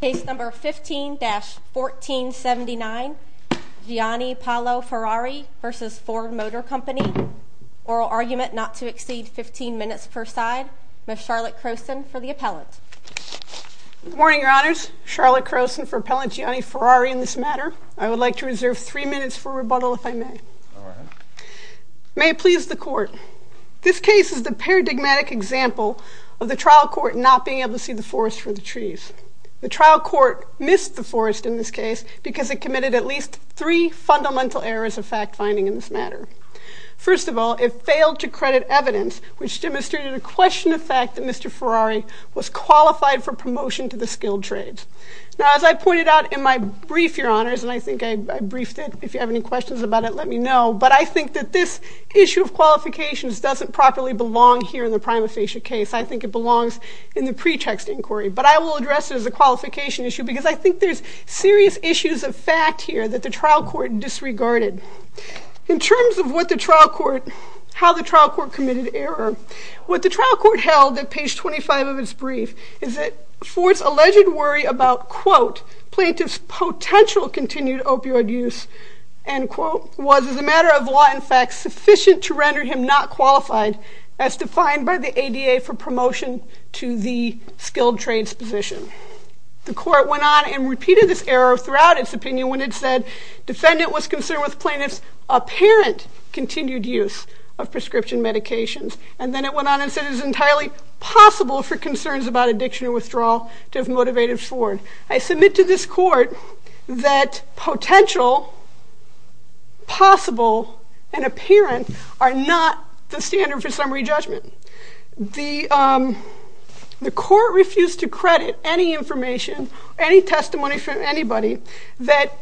Case No. 15-1479 Gianni-Paolo Ferrari v. Ford Motor Company Oral argument not to exceed 15 minutes per side. Ms. Charlotte Croson for the appellant. Good morning, Your Honors. Charlotte Croson for Appellant Gianni Ferrari in this matter. I would like to reserve 3 minutes for rebuttal if I may. May it please the Court. This case is the paradigmatic example of the trial court not being able to see the forest for the trees. The trial court missed the forest in this case because it committed at least 3 fundamental errors of fact-finding in this matter. First of all, it failed to credit evidence which demonstrated a question of fact that Mr. Ferrari was qualified for promotion to the skilled trades. Now, as I pointed out in my brief, Your Honors, and I think I briefed it. If you have any questions about it, let me know. But I think that this issue of qualifications doesn't properly belong here in the prima facie case. I think it belongs in the pretext inquiry. But I will address it as a qualification issue because I think there's serious issues of fact here that the trial court disregarded. In terms of how the trial court committed error, what the trial court held at page 25 of its brief is that Ford's alleged worry about quote, plaintiff's potential continued opioid use, end quote, was as a matter of law, in fact, sufficient to render him not qualified as defined by the ADA for promotion to the skilled trades position. The court went on and repeated this error throughout its opinion when it said defendant was concerned with plaintiff's apparent continued use of prescription medications. And then it went on and said it was entirely possible for concerns about addiction and withdrawal to have motivated Ford. I submit to this court that potential, possible, and apparent are not the standard for summary judgment. The court refused to credit any information, any testimony from anybody that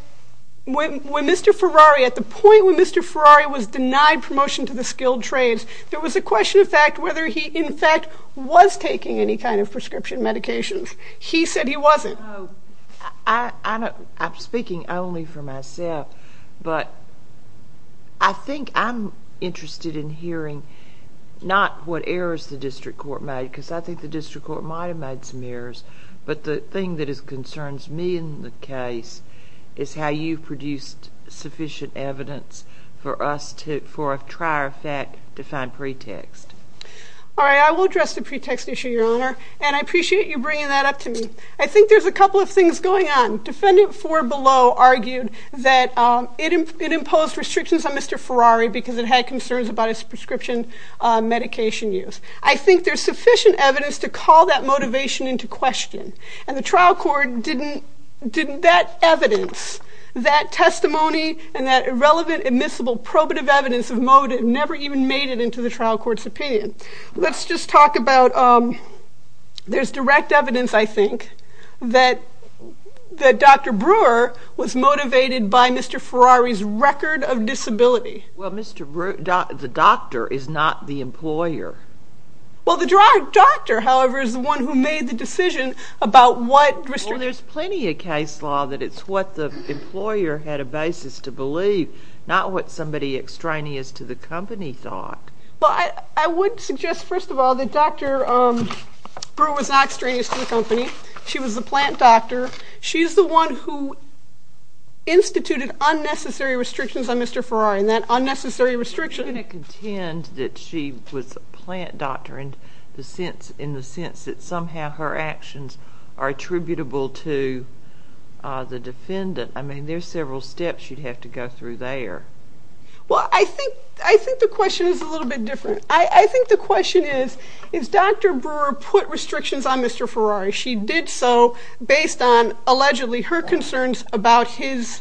when Mr. Ferrari, at the point when Mr. Ferrari was denied promotion to the skilled trades, there was a question of fact whether he, in fact, was taking any kind of prescription medications. He said he wasn't. I'm speaking only for myself, but I think I'm interested in hearing not what errors the district court made, because I think the district court might have made some errors, but the thing that concerns me in the case is how you produced sufficient evidence for us to, for a trier fact to find pretext. All right, I will address the pretext issue, Your Honor, and I appreciate you bringing that up to me. I think there's a couple of things going on. Defendant Ford below argued that it imposed restrictions on Mr. Ferrari because it had concerns about his prescription medication use. I think there's sufficient evidence to call that motivation into question, and the trial court didn't, didn't, that evidence, that testimony, and that irrelevant admissible probative evidence of motive never even made it into the trial court's opinion. Let's just talk about, there's direct evidence, I think, that Dr. Brewer was motivated by Mr. Ferrari's record of disability. Well, Mr. Brewer, the doctor is not the employer. Well, the direct doctor, however, is the one who made the decision about what restriction. Well, there's plenty of case law that it's what the employer had a basis to believe, not what somebody extraneous to the company thought. Well, I would suggest, first of all, that Dr. Brewer was not extraneous to the company. She was the plant doctor. She's the one who instituted unnecessary restrictions on Mr. Ferrari, and that unnecessary restriction. You're going to contend that she was a plant doctor in the sense that somehow her actions are attributable to the defendant. I mean, there's several steps you'd have to go through there. Well, I think the question is a little bit different. I think the question is, is Dr. Brewer put restrictions on Mr. Ferrari? She did so based on, allegedly, her concerns about his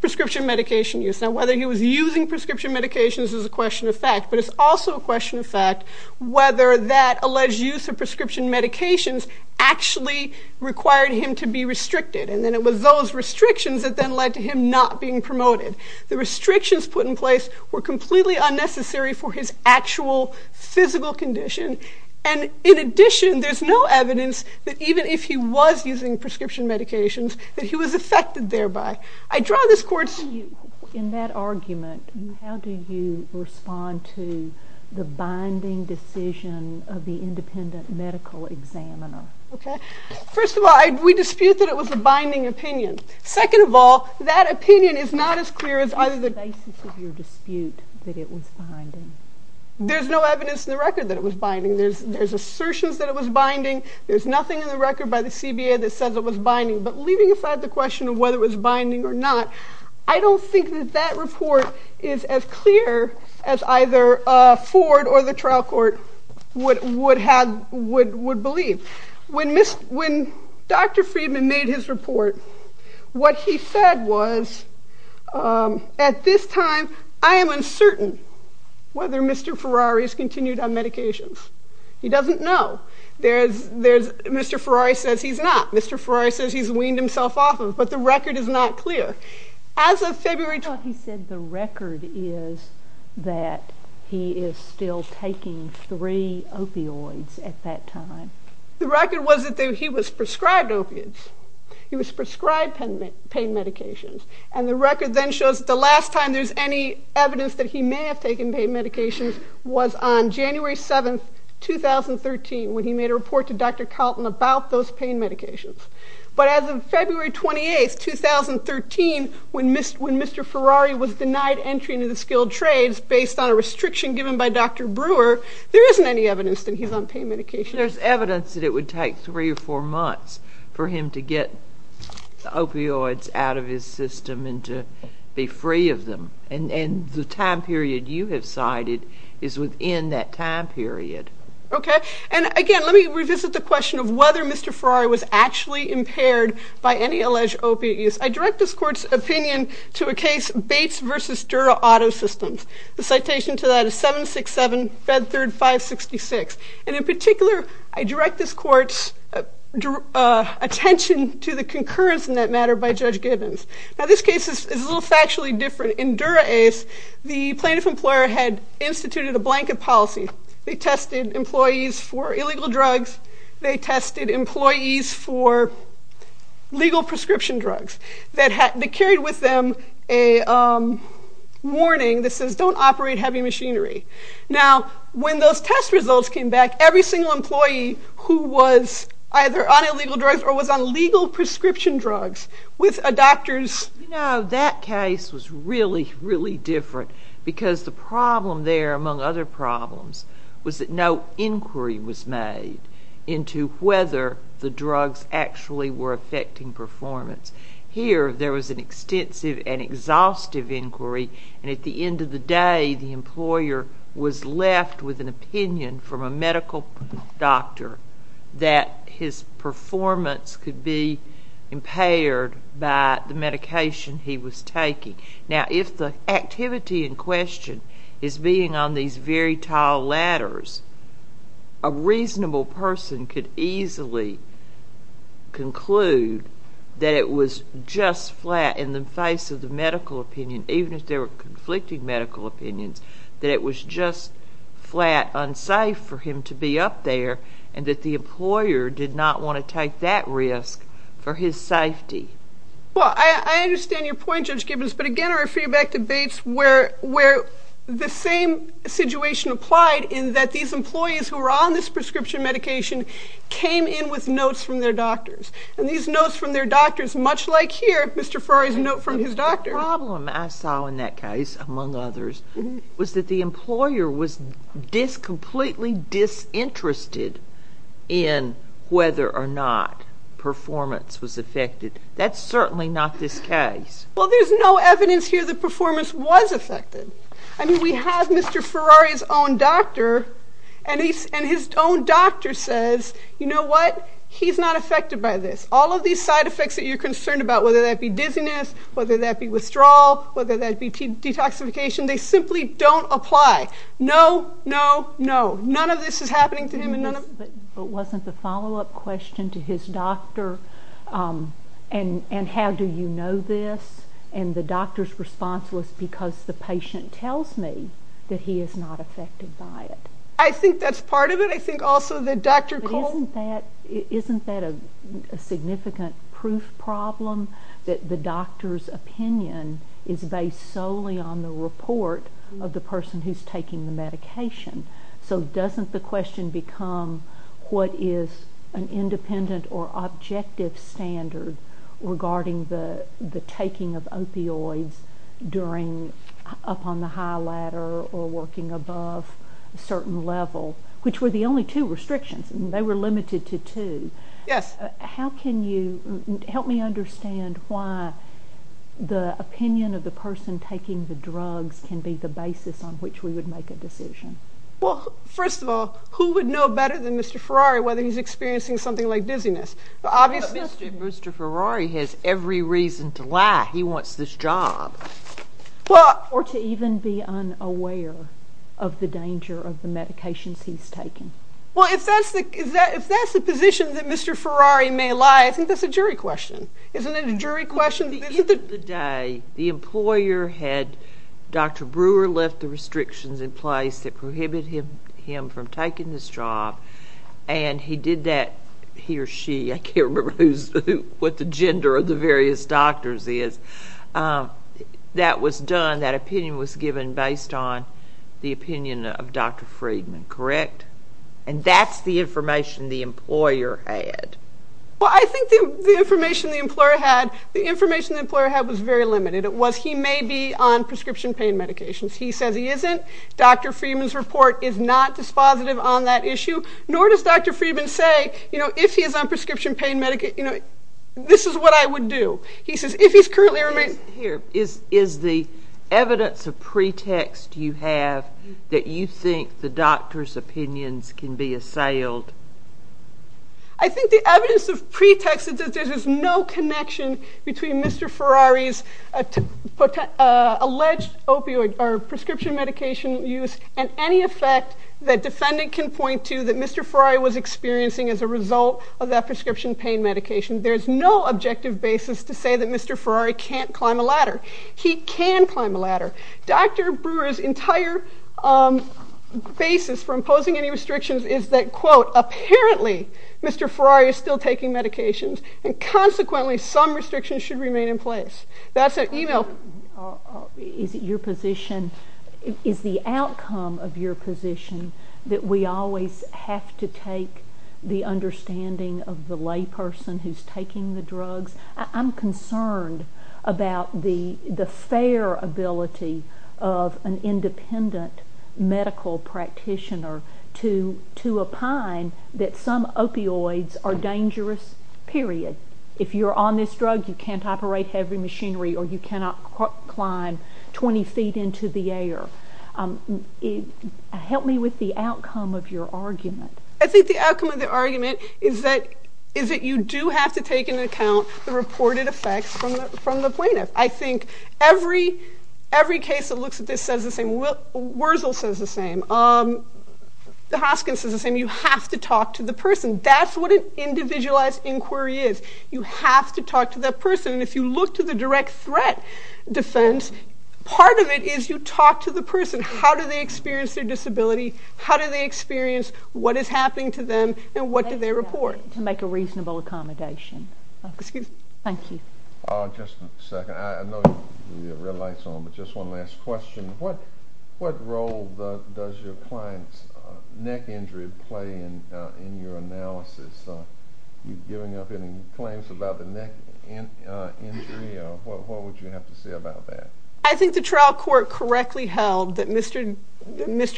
prescription medication use. Now, whether he was using prescription medications is a question of fact, but it's also a question of fact whether that alleged use of prescription medications actually required him to be restricted. And then it was those restrictions that then led to him not being promoted. The restrictions put in place were completely unnecessary for his actual physical condition. And in addition, there's no evidence that even if he was using prescription medications, that he was affected thereby. I draw this court's... In that argument, how do you respond to the binding decision of the independent medical examiner? Okay. First of all, we dispute that it was a binding opinion. Second of all, that opinion is not as clear as either the... What was the basis of your dispute that it was binding? There's no evidence in the record that it was binding. There's assertions that it was binding. There's nothing in the record by the CBA that says it was binding. But leaving aside the question of whether it was binding or not, I don't think that that report is as clear as either Ford or the trial court would believe. When Dr. Friedman made his report, what he said was, at this time, I am uncertain whether Mr. Ferrari has continued on medications. He doesn't know. Mr. Ferrari says he's not. Mr. Ferrari says he's weaned himself off of, but the record is not clear. As of February... The record was that he was prescribed opiates. He was prescribed pain medications. And the record then shows that the last time there's any evidence that he may have taken pain medications was on January 7, 2013, when he made a report to Dr. Calton about those pain medications. But as of February 28, 2013, when Mr. Ferrari was denied entry into the skilled trades based on a restriction given by Dr. Brewer, there isn't any evidence that he's on pain medications. But there's evidence that it would take three or four months for him to get opioids out of his system and to be free of them. And the time period you have cited is within that time period. Okay. And, again, let me revisit the question of whether Mr. Ferrari was actually impaired by any alleged opiate use. I direct this Court's opinion to a case, Bates v. Dura Auto Systems. The citation to that is 767-5366. And, in particular, I direct this Court's attention to the concurrence in that matter by Judge Gibbons. Now, this case is a little factually different. In Dura-Ace, the plaintiff employer had instituted a blanket policy. They tested employees for illegal drugs. They tested employees for legal prescription drugs. They carried with them a warning that says, don't operate heavy machinery. Now, when those test results came back, every single employee who was either on illegal drugs or was on legal prescription drugs with a doctor's… You know, that case was really, really different because the problem there, among other problems, was that no inquiry was made into whether the drugs actually were affecting performance. Here, there was an extensive and exhaustive inquiry. And at the end of the day, the employer was left with an opinion from a medical doctor that his performance could be impaired by the medication he was taking. Now, if the activity in question is being on these very tall ladders, a reasonable person could easily conclude that it was just flat in the face of the medical opinion, even if there were conflicting medical opinions, that it was just flat, unsafe for him to be up there and that the employer did not want to take that risk for his safety. Well, I understand your point, Judge Gibbons, but again, our feedback debates were the same situation applied in that these employees who were on this prescription medication came in with notes from their doctors. And these notes from their doctors, much like here, Mr. Ferrari's note from his doctor. The problem I saw in that case, among others, was that the employer was completely disinterested in whether or not performance was affected. That's certainly not this case. Well, there's no evidence here that performance was affected. I mean, we have Mr. Ferrari's own doctor, and his own doctor says, you know what, he's not affected by this. All of these side effects that you're concerned about, whether that be dizziness, whether that be withdrawal, whether that be detoxification, they simply don't apply. No, no, no. None of this is happening to him. But wasn't the follow-up question to his doctor, and how do you know this? And the doctor's response was, because the patient tells me that he is not affected by it. I think that's part of it. I think also that Dr. Cole... Isn't that a significant proof problem that the doctor's opinion is based solely on the report of the person who's taking the medication? So doesn't the question become, what is an independent or objective standard regarding the taking of opioids during up on the high ladder or working above a certain level? Which were the only two restrictions, and they were limited to two. Yes. How can you help me understand why the opinion of the person taking the drugs can be the basis on which we would make a decision? Well, first of all, who would know better than Mr. Ferrari whether he's experiencing something like dizziness? Obviously, Mr. Ferrari has every reason to lie. He wants this job. Or to even be unaware of the danger of the medications he's taking. Well, if that's the position that Mr. Ferrari may lie, I think that's a jury question. Isn't it a jury question? At the end of the day, the employer had Dr. Brewer left the restrictions in place that prohibit him from taking this job, and he did that, he or she, I can't remember what the gender of the various doctors is. That was done, that opinion was given based on the opinion of Dr. Friedman, correct? And that's the information the employer had. Well, I think the information the employer had was very limited. It was, he may be on prescription pain medications. He says he isn't. Dr. Friedman's report is not dispositive on that issue. Nor does Dr. Friedman say, you know, if he is on prescription pain medication, you know, this is what I would do. He says if he's currently... Here, is the evidence of pretext you have that you think the doctor's opinions can be assailed? I think the evidence of pretext is that there's no connection between Mr. Ferrari's alleged opioid or prescription medication use and any effect that defendant can point to that Mr. Ferrari was experiencing as a result of that prescription pain medication. There's no objective basis to say that Mr. Ferrari can't climb a ladder. He can climb a ladder. Dr. Brewer's entire basis for imposing any restrictions is that, quote, apparently Mr. Ferrari is still taking medications and consequently some restrictions should remain in place. That's an email... Is it your position, is the outcome of your position that we always have to take the understanding of the layperson who's taking the drugs? I'm concerned about the fair ability of an independent medical practitioner to opine that some opioids are dangerous, period. If you're on this drug, you can't operate heavy machinery or you cannot climb 20 feet into the air. Help me with the outcome of your argument. I think the outcome of the argument is that you do have to take into account the reported effects from the plaintiff. I think every case that looks at this says the same. Wurzel says the same. Hoskins says the same. You have to talk to the person. That's what an individualized inquiry is. You have to talk to that person. If you look to the direct threat defense, part of it is you talk to the person. How do they experience their disability? How do they experience what is happening to them and what do they report? To make a reasonable accommodation. Excuse me. Thank you. Just a second. I know you have your red lights on, but just one last question. What role does your client's neck injury play in your analysis? Are you giving up any claims about the neck injury? What would you have to say about that? I think the trial court correctly held that Mr.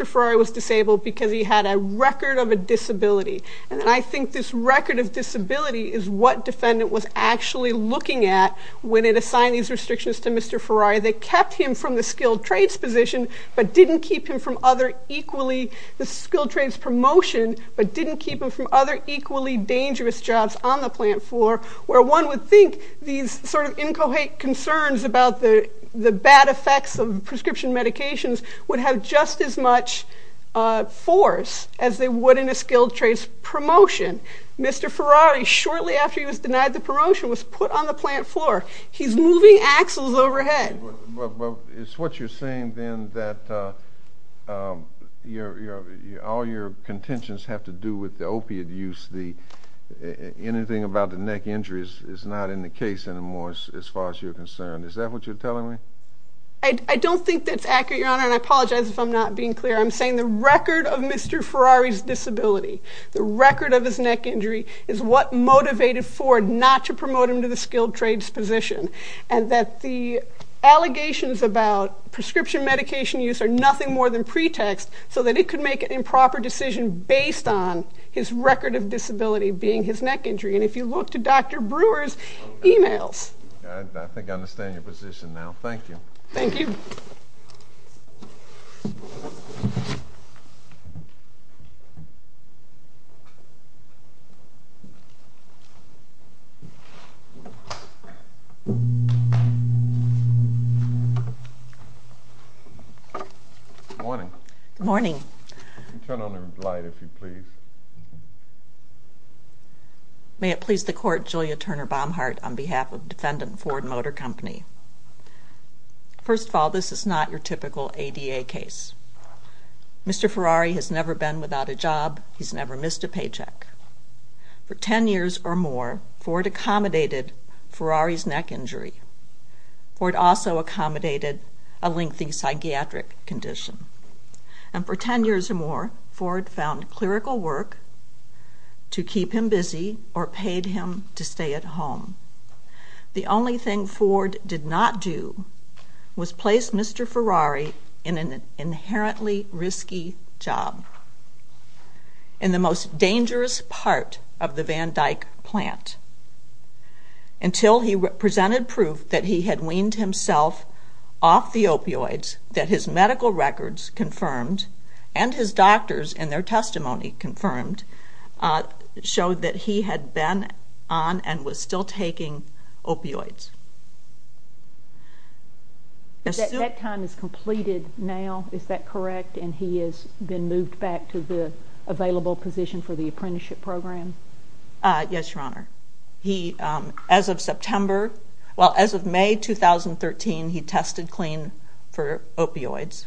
Ferrari was disabled because he had a record of a disability. And I think this record of disability is what defendant was actually looking at when it assigned these restrictions to Mr. Ferrari. They kept him from the skilled trades position but didn't keep him from other equally, the skilled trades promotion, but didn't keep him from other equally dangerous jobs on the plant floor, where one would think these sort of inchoate concerns about the bad effects of prescription medications would have just as much force as they would in a skilled trades promotion. Mr. Ferrari, shortly after he was denied the promotion, was put on the plant floor. He's moving axles overhead. It's what you're saying, then, that all your contentions have to do with the opiate use. Anything about the neck injury is not in the case anymore as far as you're concerned. Is that what you're telling me? I don't think that's accurate, Your Honor, and I apologize if I'm not being clear. I'm saying the record of Mr. Ferrari's disability, the record of his neck injury, is what motivated Ford not to promote him to the skilled trades position, and that the allegations about prescription medication use are nothing more than pretext so that he could make an improper decision based on his record of disability being his neck injury. And if you look to Dr. Brewer's e-mails. I think I understand your position now. Thank you. Thank you. Good morning. Good morning. Turn on your light, if you please. May it please the Court, Julia Turner Baumhardt on behalf of defendant Ford Motor Company. First of all, this is not your typical ADA case. Mr. Ferrari has never been without a job. He's never missed a paycheck. For 10 years or more, Ford accommodated Ferrari's neck injury. Ford also accommodated a lengthy psychiatric condition. And for 10 years or more, Ford found clerical work to keep him busy or paid him to stay at home. The only thing Ford did not do was place Mr. Ferrari in an inherently risky job, in the most dangerous part of the Van Dyck plant, until he presented proof that he had weaned himself off the opioids that his medical records confirmed and his doctors, in their testimony confirmed, showed that he had been on and was still taking opioids. That time is completed now, is that correct? And he has been moved back to the available position for the apprenticeship program? Yes, Your Honor. He, as of September, well, as of May 2013, he tested clean for opioids.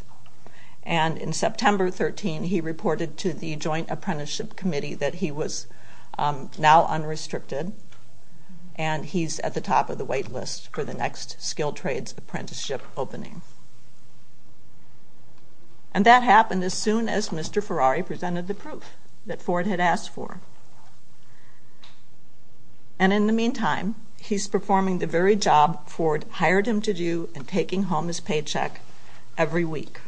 And in September 13, he reported to the Joint Apprenticeship Committee that he was now unrestricted, and he's at the top of the wait list for the next skilled trades apprenticeship opening. And that happened as soon as Mr. Ferrari presented the proof that Ford had asked for. And in the meantime, he's performing the very job Ford hired him to do in taking home his paycheck every week.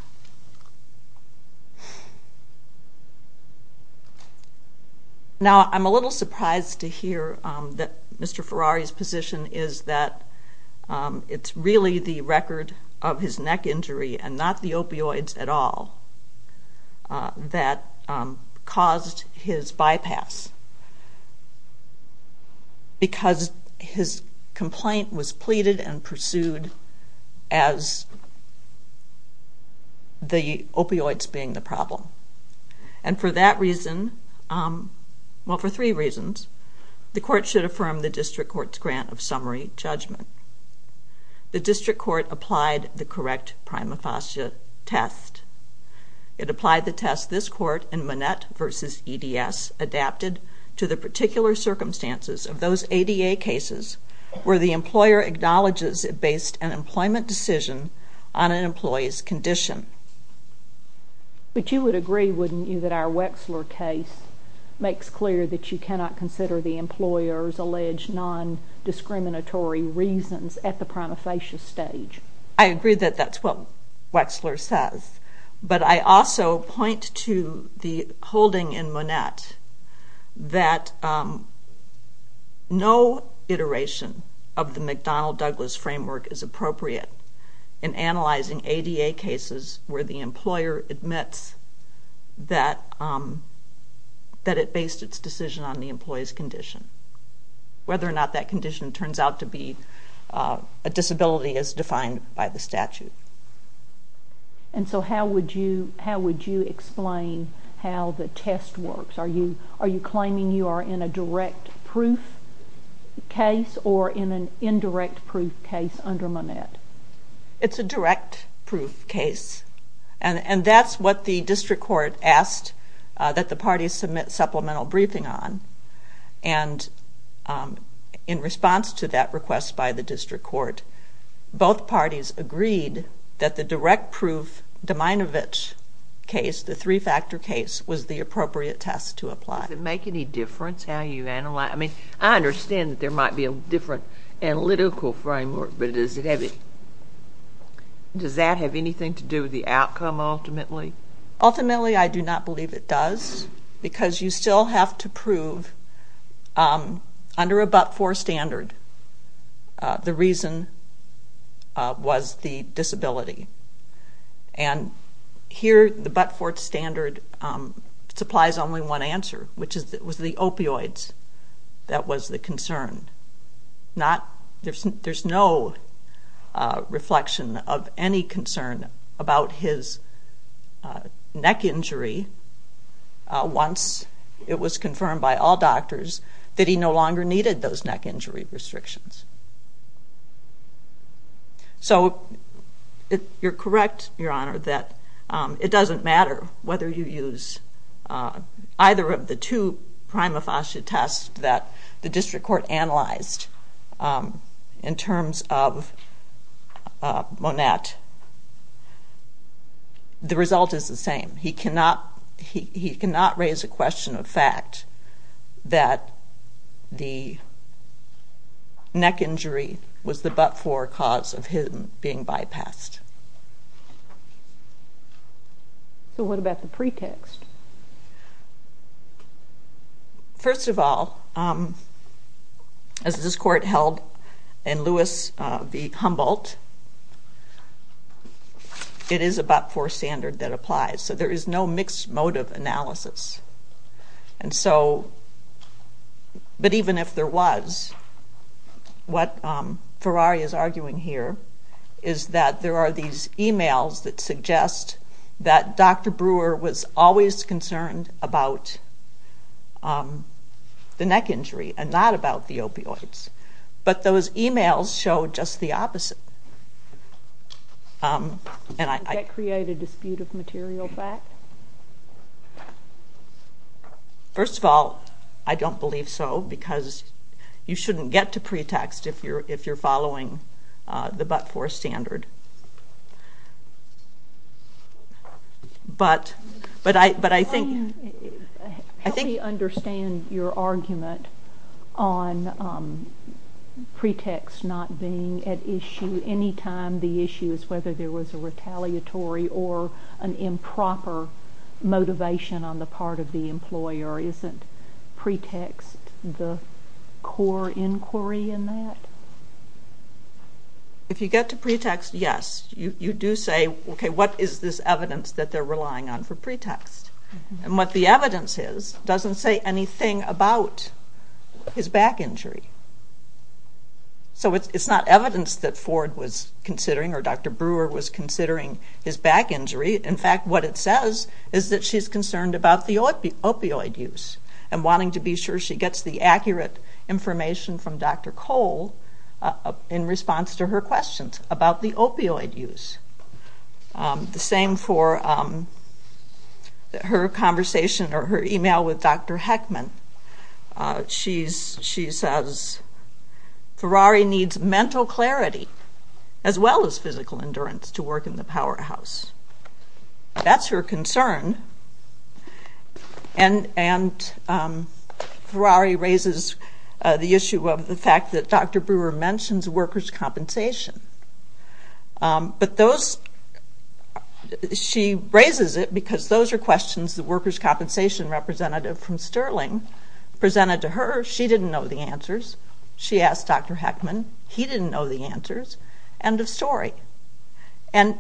Now, I'm a little surprised to hear that Mr. Ferrari's position is that it's really the record of his neck injury and not the opioids at all that caused his bypass, because his complaint was pleaded and pursued as the opioids being the problem. And for that reason, well, for three reasons, the court should affirm the district court's grant of summary judgment. The district court applied the correct prima facie test. It applied the test this court in Manette v. EDS adapted to the particular circumstances of those ADA cases where the employer acknowledges it based an employment decision on an employee's condition. But you would agree, wouldn't you, that our Wexler case makes clear that you cannot consider the employer's non-discriminatory reasons at the prima facie stage? I agree that that's what Wexler says. But I also point to the holding in Manette that no iteration of the McDonnell-Douglas framework is appropriate in analyzing ADA cases where the employer admits that it based its decision on the employee's condition, whether or not that condition turns out to be a disability as defined by the statute. And so how would you explain how the test works? Are you claiming you are in a direct proof case or in an indirect proof case under Manette? It's a direct proof case. And that's what the district court asked that the parties submit supplemental briefing on. And in response to that request by the district court, both parties agreed that the direct proof Dominovich case, the three-factor case, was the appropriate test to apply. Does it make any difference how you analyze? I mean, I understand that there might be a different analytical framework, but does that have anything to do with the outcome ultimately? Ultimately, I do not believe it does because you still have to prove under a but-for standard the reason was the disability. And here the but-for standard supplies only one answer, which was the opioids that was the concern. There's no reflection of any concern about his neck injury once it was confirmed by all doctors that he no longer needed those neck injury restrictions. So you're correct, Your Honor, that it doesn't matter whether you use either of the two prima facie tests that the district court analyzed in terms of Monette. The result is the same. He cannot raise a question of fact that the neck injury was the but-for cause of him being bypassed. So what about the pretext? First of all, as this court held in Lewis v. Humboldt, it is a but-for standard that applies. So there is no mixed motive analysis. But even if there was, what Ferrari is arguing here is that there are these emails that suggest that Dr. Brewer was always concerned about the neck injury and not about the opioids. But those emails show just the opposite. Did that create a dispute of material fact? First of all, I don't believe so because you shouldn't get to pretext if you're following the but-for standard. But I think... Help me understand your argument on pretext not being at issue any time the issue is whether there was a retaliatory or an improper motivation on the part of the employer. Isn't pretext the core inquiry in that? If you get to pretext, yes. You do say, okay, what is this evidence that they're relying on for pretext? And what the evidence is doesn't say anything about his back injury. So it's not evidence that Ford was considering or Dr. Brewer was considering his back injury. In fact, what it says is that she's concerned about the opioid use and wanting to be sure she gets the accurate information from Dr. Cole in response to her questions about the opioid use. The same for her conversation or her email with Dr. Heckman. She says Ferrari needs mental clarity as well as physical endurance to work in the powerhouse. That's her concern. And Ferrari raises the issue of the fact that Dr. Brewer mentions workers' compensation. But those... She raises it because those are questions the workers' compensation representative from Sterling presented to her. She didn't know the answers. She asked Dr. Heckman. He didn't know the answers. End of story. And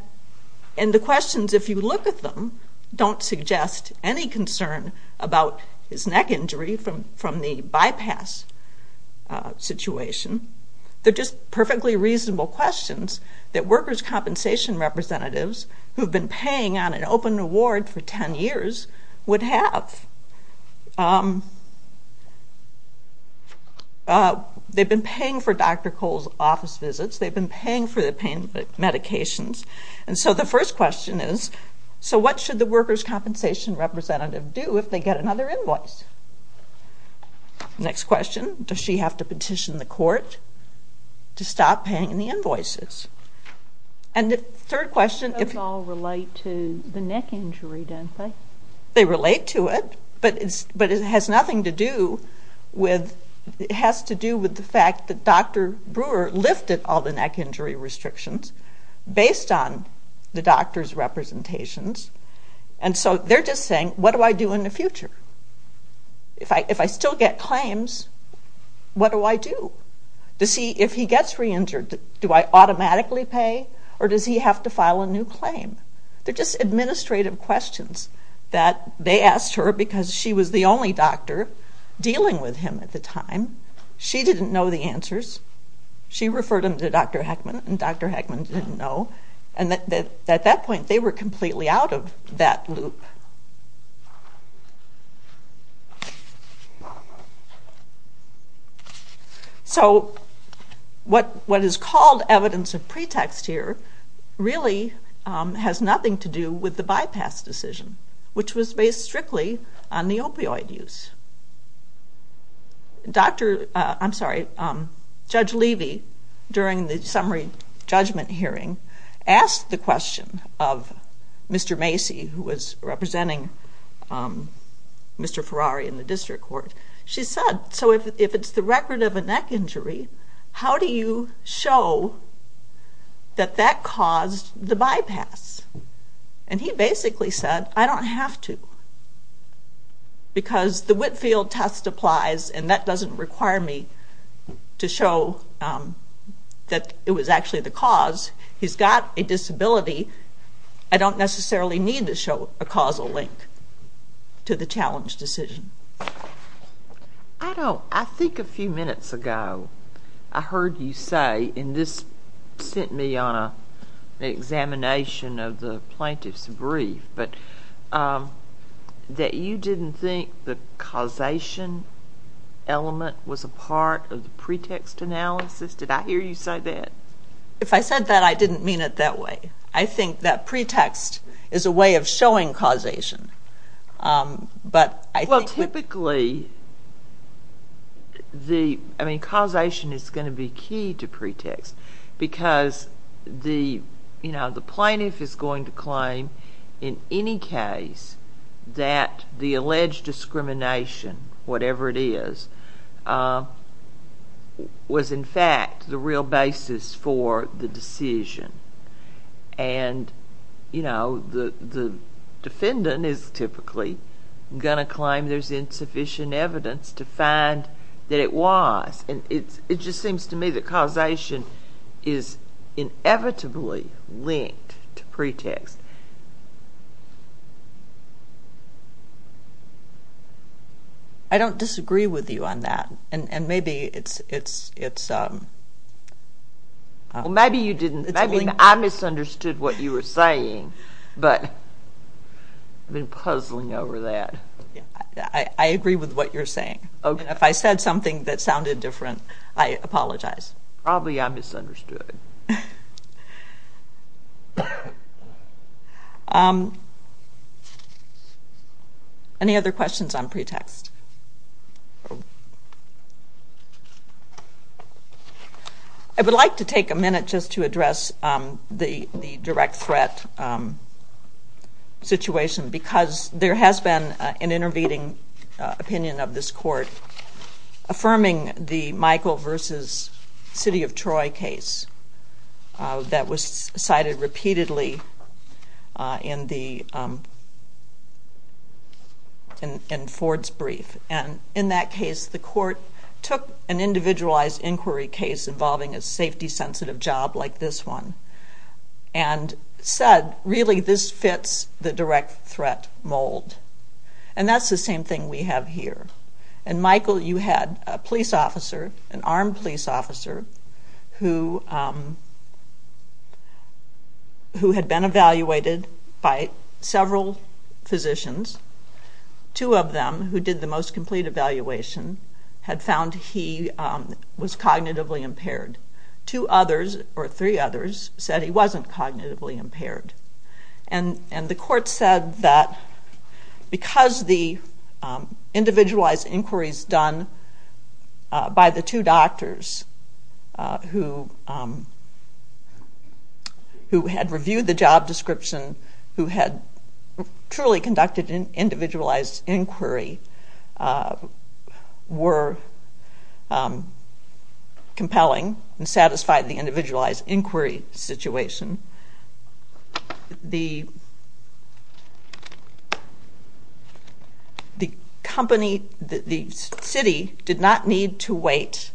the questions, if you look at them, don't suggest any concern about his neck injury from the bypass situation. They're just perfectly reasonable questions that workers' compensation representatives who have been paying on an open award for 10 years would have. They've been paying for Dr. Cole's office visits. They've been paying for the pain medications. And so the first question is, so what should the workers' compensation representative do if they get another invoice? Next question, does she have to petition the court to stop paying the invoices? And the third question... Those all relate to the neck injury, don't they? They relate to it, but it has nothing to do with... based on the doctor's representations. And so they're just saying, what do I do in the future? If I still get claims, what do I do? If he gets re-injured, do I automatically pay or does he have to file a new claim? They're just administrative questions that they asked her because she was the only doctor dealing with him at the time. She didn't know the answers. She referred him to Dr. Heckman, and Dr. Heckman didn't know. And at that point, they were completely out of that loop. So what is called evidence of pretext here really has nothing to do with the bypass decision, which was based strictly on the opioid use. Judge Levy, during the summary judgment hearing, asked the question of Mr. Macy, who was representing Mr. Ferrari in the district court. She said, so if it's the record of a neck injury, how do you show that that caused the bypass? And he basically said, I don't have to because the Whitfield test applies, and that doesn't require me to show that it was actually the cause. He's got a disability. I don't necessarily need to show a causal link to the challenge decision. I think a few minutes ago, I heard you say, and this sent me on an examination of the plaintiff's brief, that you didn't think the causation element was a part of the pretext analysis. Did I hear you say that? If I said that, I didn't mean it that way. I think that pretext is a way of showing causation. Well, typically, causation is going to be key to pretext because the plaintiff is going to claim in any case that the alleged discrimination, whatever it is, was in fact the real basis for the decision. And the defendant is typically going to claim there's insufficient evidence to find that it was. And it just seems to me that causation is inevitably linked to pretext. I don't disagree with you on that. And maybe it's... Well, maybe you didn't. Maybe I misunderstood what you were saying, but I've been puzzling over that. I agree with what you're saying. And if I said something that sounded different, I apologize. Probably I misunderstood. Any other questions on pretext? I would like to take a minute just to address the direct threat situation because there has been an intervening opinion of this court affirming the Michael v. City of Troy case that was cited repeatedly in Ford's brief. And in that case, the court took an individualized inquiry case involving a safety-sensitive job like this one and said, really, this fits the direct threat mold. And that's the same thing we have here. And, Michael, you had a police officer, an armed police officer, who had been evaluated by several physicians. Two of them, who did the most complete evaluation, had found he was cognitively impaired. Two others, or three others, said he wasn't cognitively impaired. And the court said that because the individualized inquiries done by the two doctors who had reviewed the job description, who had truly conducted an individualized inquiry, were compelling and satisfied the individualized inquiry situation. The company, the city, did not need to wait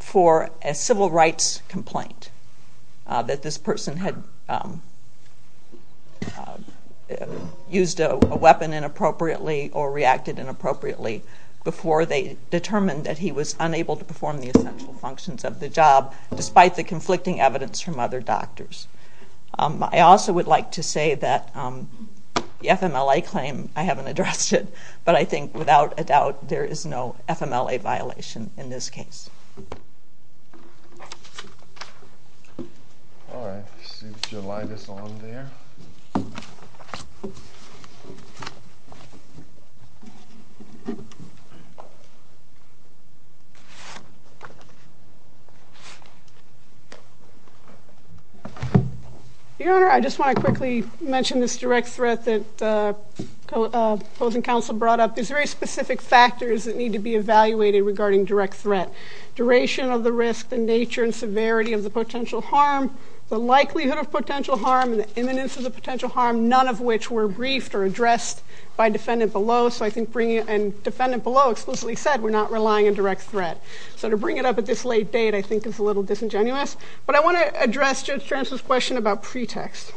for a civil rights complaint that this person had used a weapon inappropriately or reacted inappropriately before they determined that he was unable to perform the essential functions of the job, despite the conflicting evidence from other doctors. I also would like to say that the FMLA claim, I haven't addressed it, but I think, without a doubt, there is no FMLA violation in this case. All right, let's see if July is on there. Your Honor, I just want to quickly mention this direct threat that opposing counsel brought up. There's very specific factors that need to be evaluated regarding direct threat. Duration of the risk, the nature and severity of the potential harm, the likelihood of potential harm, and the imminence of the potential harm, none of which were briefed or addressed by defendant below. So I think bringing it, and defendant below explicitly said, we're not relying on direct threat. So to bring it up at this late date, I think, is a little disingenuous. But I want to address Judge Tranz's question about pretext.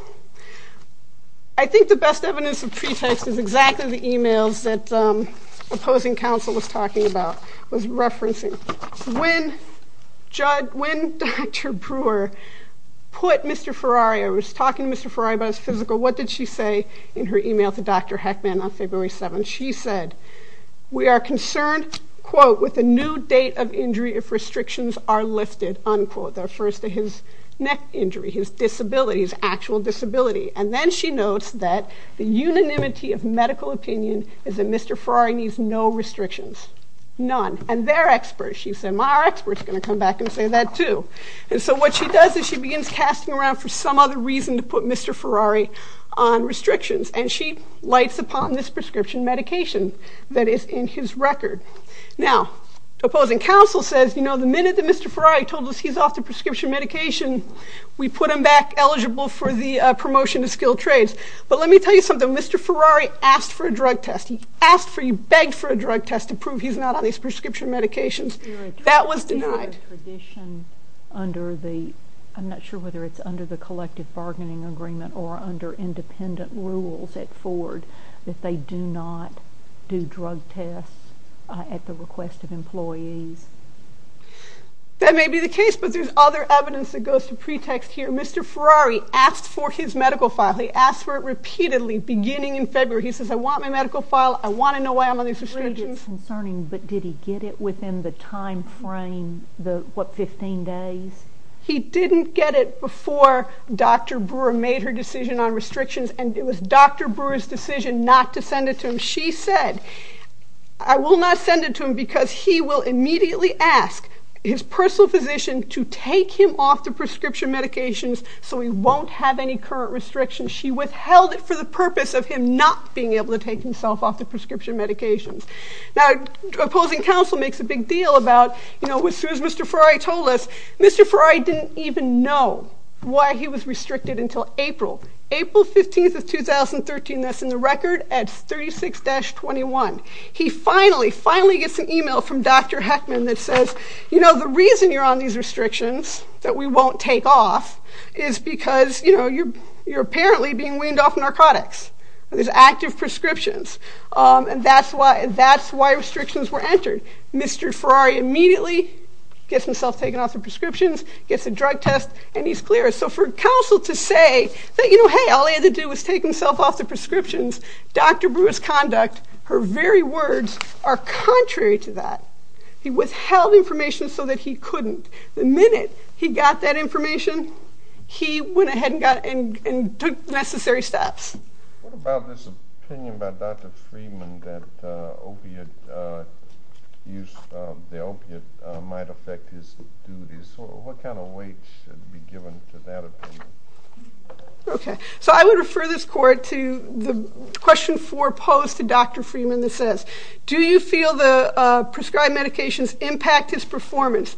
I think the best evidence of pretext is exactly the emails that opposing counsel was talking about, was referencing. When Dr. Brewer put Mr. Ferrari, I was talking to Mr. Ferrari about his physical, what did she say in her email to Dr. Heckman on February 7th? She said, we are concerned, quote, with a new date of injury if restrictions are lifted, unquote. That refers to his neck injury, his disability, his actual disability. And then she notes that the unanimity of medical opinion is that Mr. Ferrari needs no restrictions, none. And they're experts. She said, well, our experts are going to come back and say that too. And so what she does is she begins casting around for some other reason to put Mr. Ferrari on restrictions. And she lights upon this prescription medication that is in his record. Now, opposing counsel says, you know, the minute that Mr. Ferrari told us he's off the prescription medication, we put him back eligible for the promotion to skilled trades. But let me tell you something. Mr. Ferrari asked for a drug test. He asked for, he begged for a drug test to prove he's not on these prescription medications. That was denied. You're a tradition under the, I'm not sure whether it's under the collective bargaining agreement or under independent rules at Ford, that they do not do drug tests at the request of employees. That may be the case, but there's other evidence that goes to pretext here. Mr. Ferrari asked for his medical file. He asked for it repeatedly beginning in February. He says, I want my medical file. I want to know why I'm on these restrictions. But did he get it within the time frame, the, what, 15 days? He didn't get it before Dr. Brewer made her decision on restrictions. And it was Dr. Brewer's decision not to send it to him. She said, I will not send it to him because he will immediately ask his personal physician to take him off the prescription medications so he won't have any current restrictions. She withheld it for the purpose of him not being able to take himself off the prescription medications. Now, opposing counsel makes a big deal about, you know, as soon as Mr. Ferrari told us, Mr. Ferrari didn't even know why he was restricted until April, April 15th of 2013. That's in the record at 36-21. He finally, finally gets an email from Dr. Heckman that says, you know, the reason you're on these restrictions, that we won't take off, is because, you know, you're apparently being weaned off narcotics. There's active prescriptions. And that's why restrictions were entered. Mr. Ferrari immediately gets himself taken off the prescriptions, gets a drug test, and he's clear. So for counsel to say that, you know, hey, all he had to do was take himself off the prescriptions, Dr. Brewer's conduct, her very words, are contrary to that. He withheld information so that he couldn't. The minute he got that information, he went ahead and took necessary steps. What about this opinion by Dr. Freeman that the opiate might affect his duties? What kind of weight should be given to that opinion? Okay. So I would refer this court to the question posed to Dr. Freeman that says, do you feel the prescribed medications impact his performance?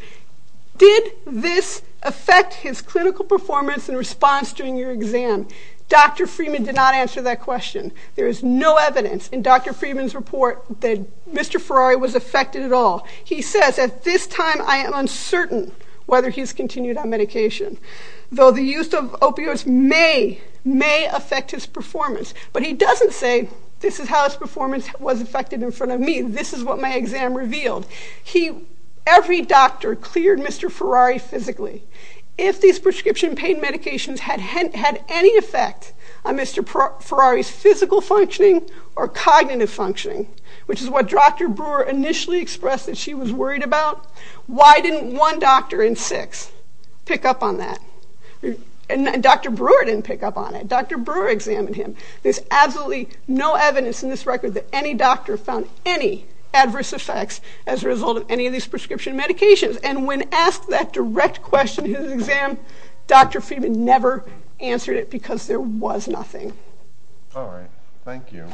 Did this affect his clinical performance and response during your exam? Dr. Freeman did not answer that question. There is no evidence in Dr. Freeman's report that Mr. Ferrari was affected at all. He says, at this time, I am uncertain whether he's continued on medication. Though the use of opioids may affect his performance. But he doesn't say, this is how his performance was affected in front of me. This is what my exam revealed. Every doctor cleared Mr. Ferrari physically. If these prescription pain medications had any effect on Mr. Ferrari's physical functioning or cognitive functioning, which is what Dr. Brewer initially expressed that she was worried about, why didn't one doctor in six pick up on that? And Dr. Brewer didn't pick up on it. Dr. Brewer examined him. There's absolutely no evidence in this record that any doctor found any adverse effects as a result of any of these prescription medications. And when asked that direct question in his exam, Dr. Freeman never answered it because there was nothing. All right. Thank you.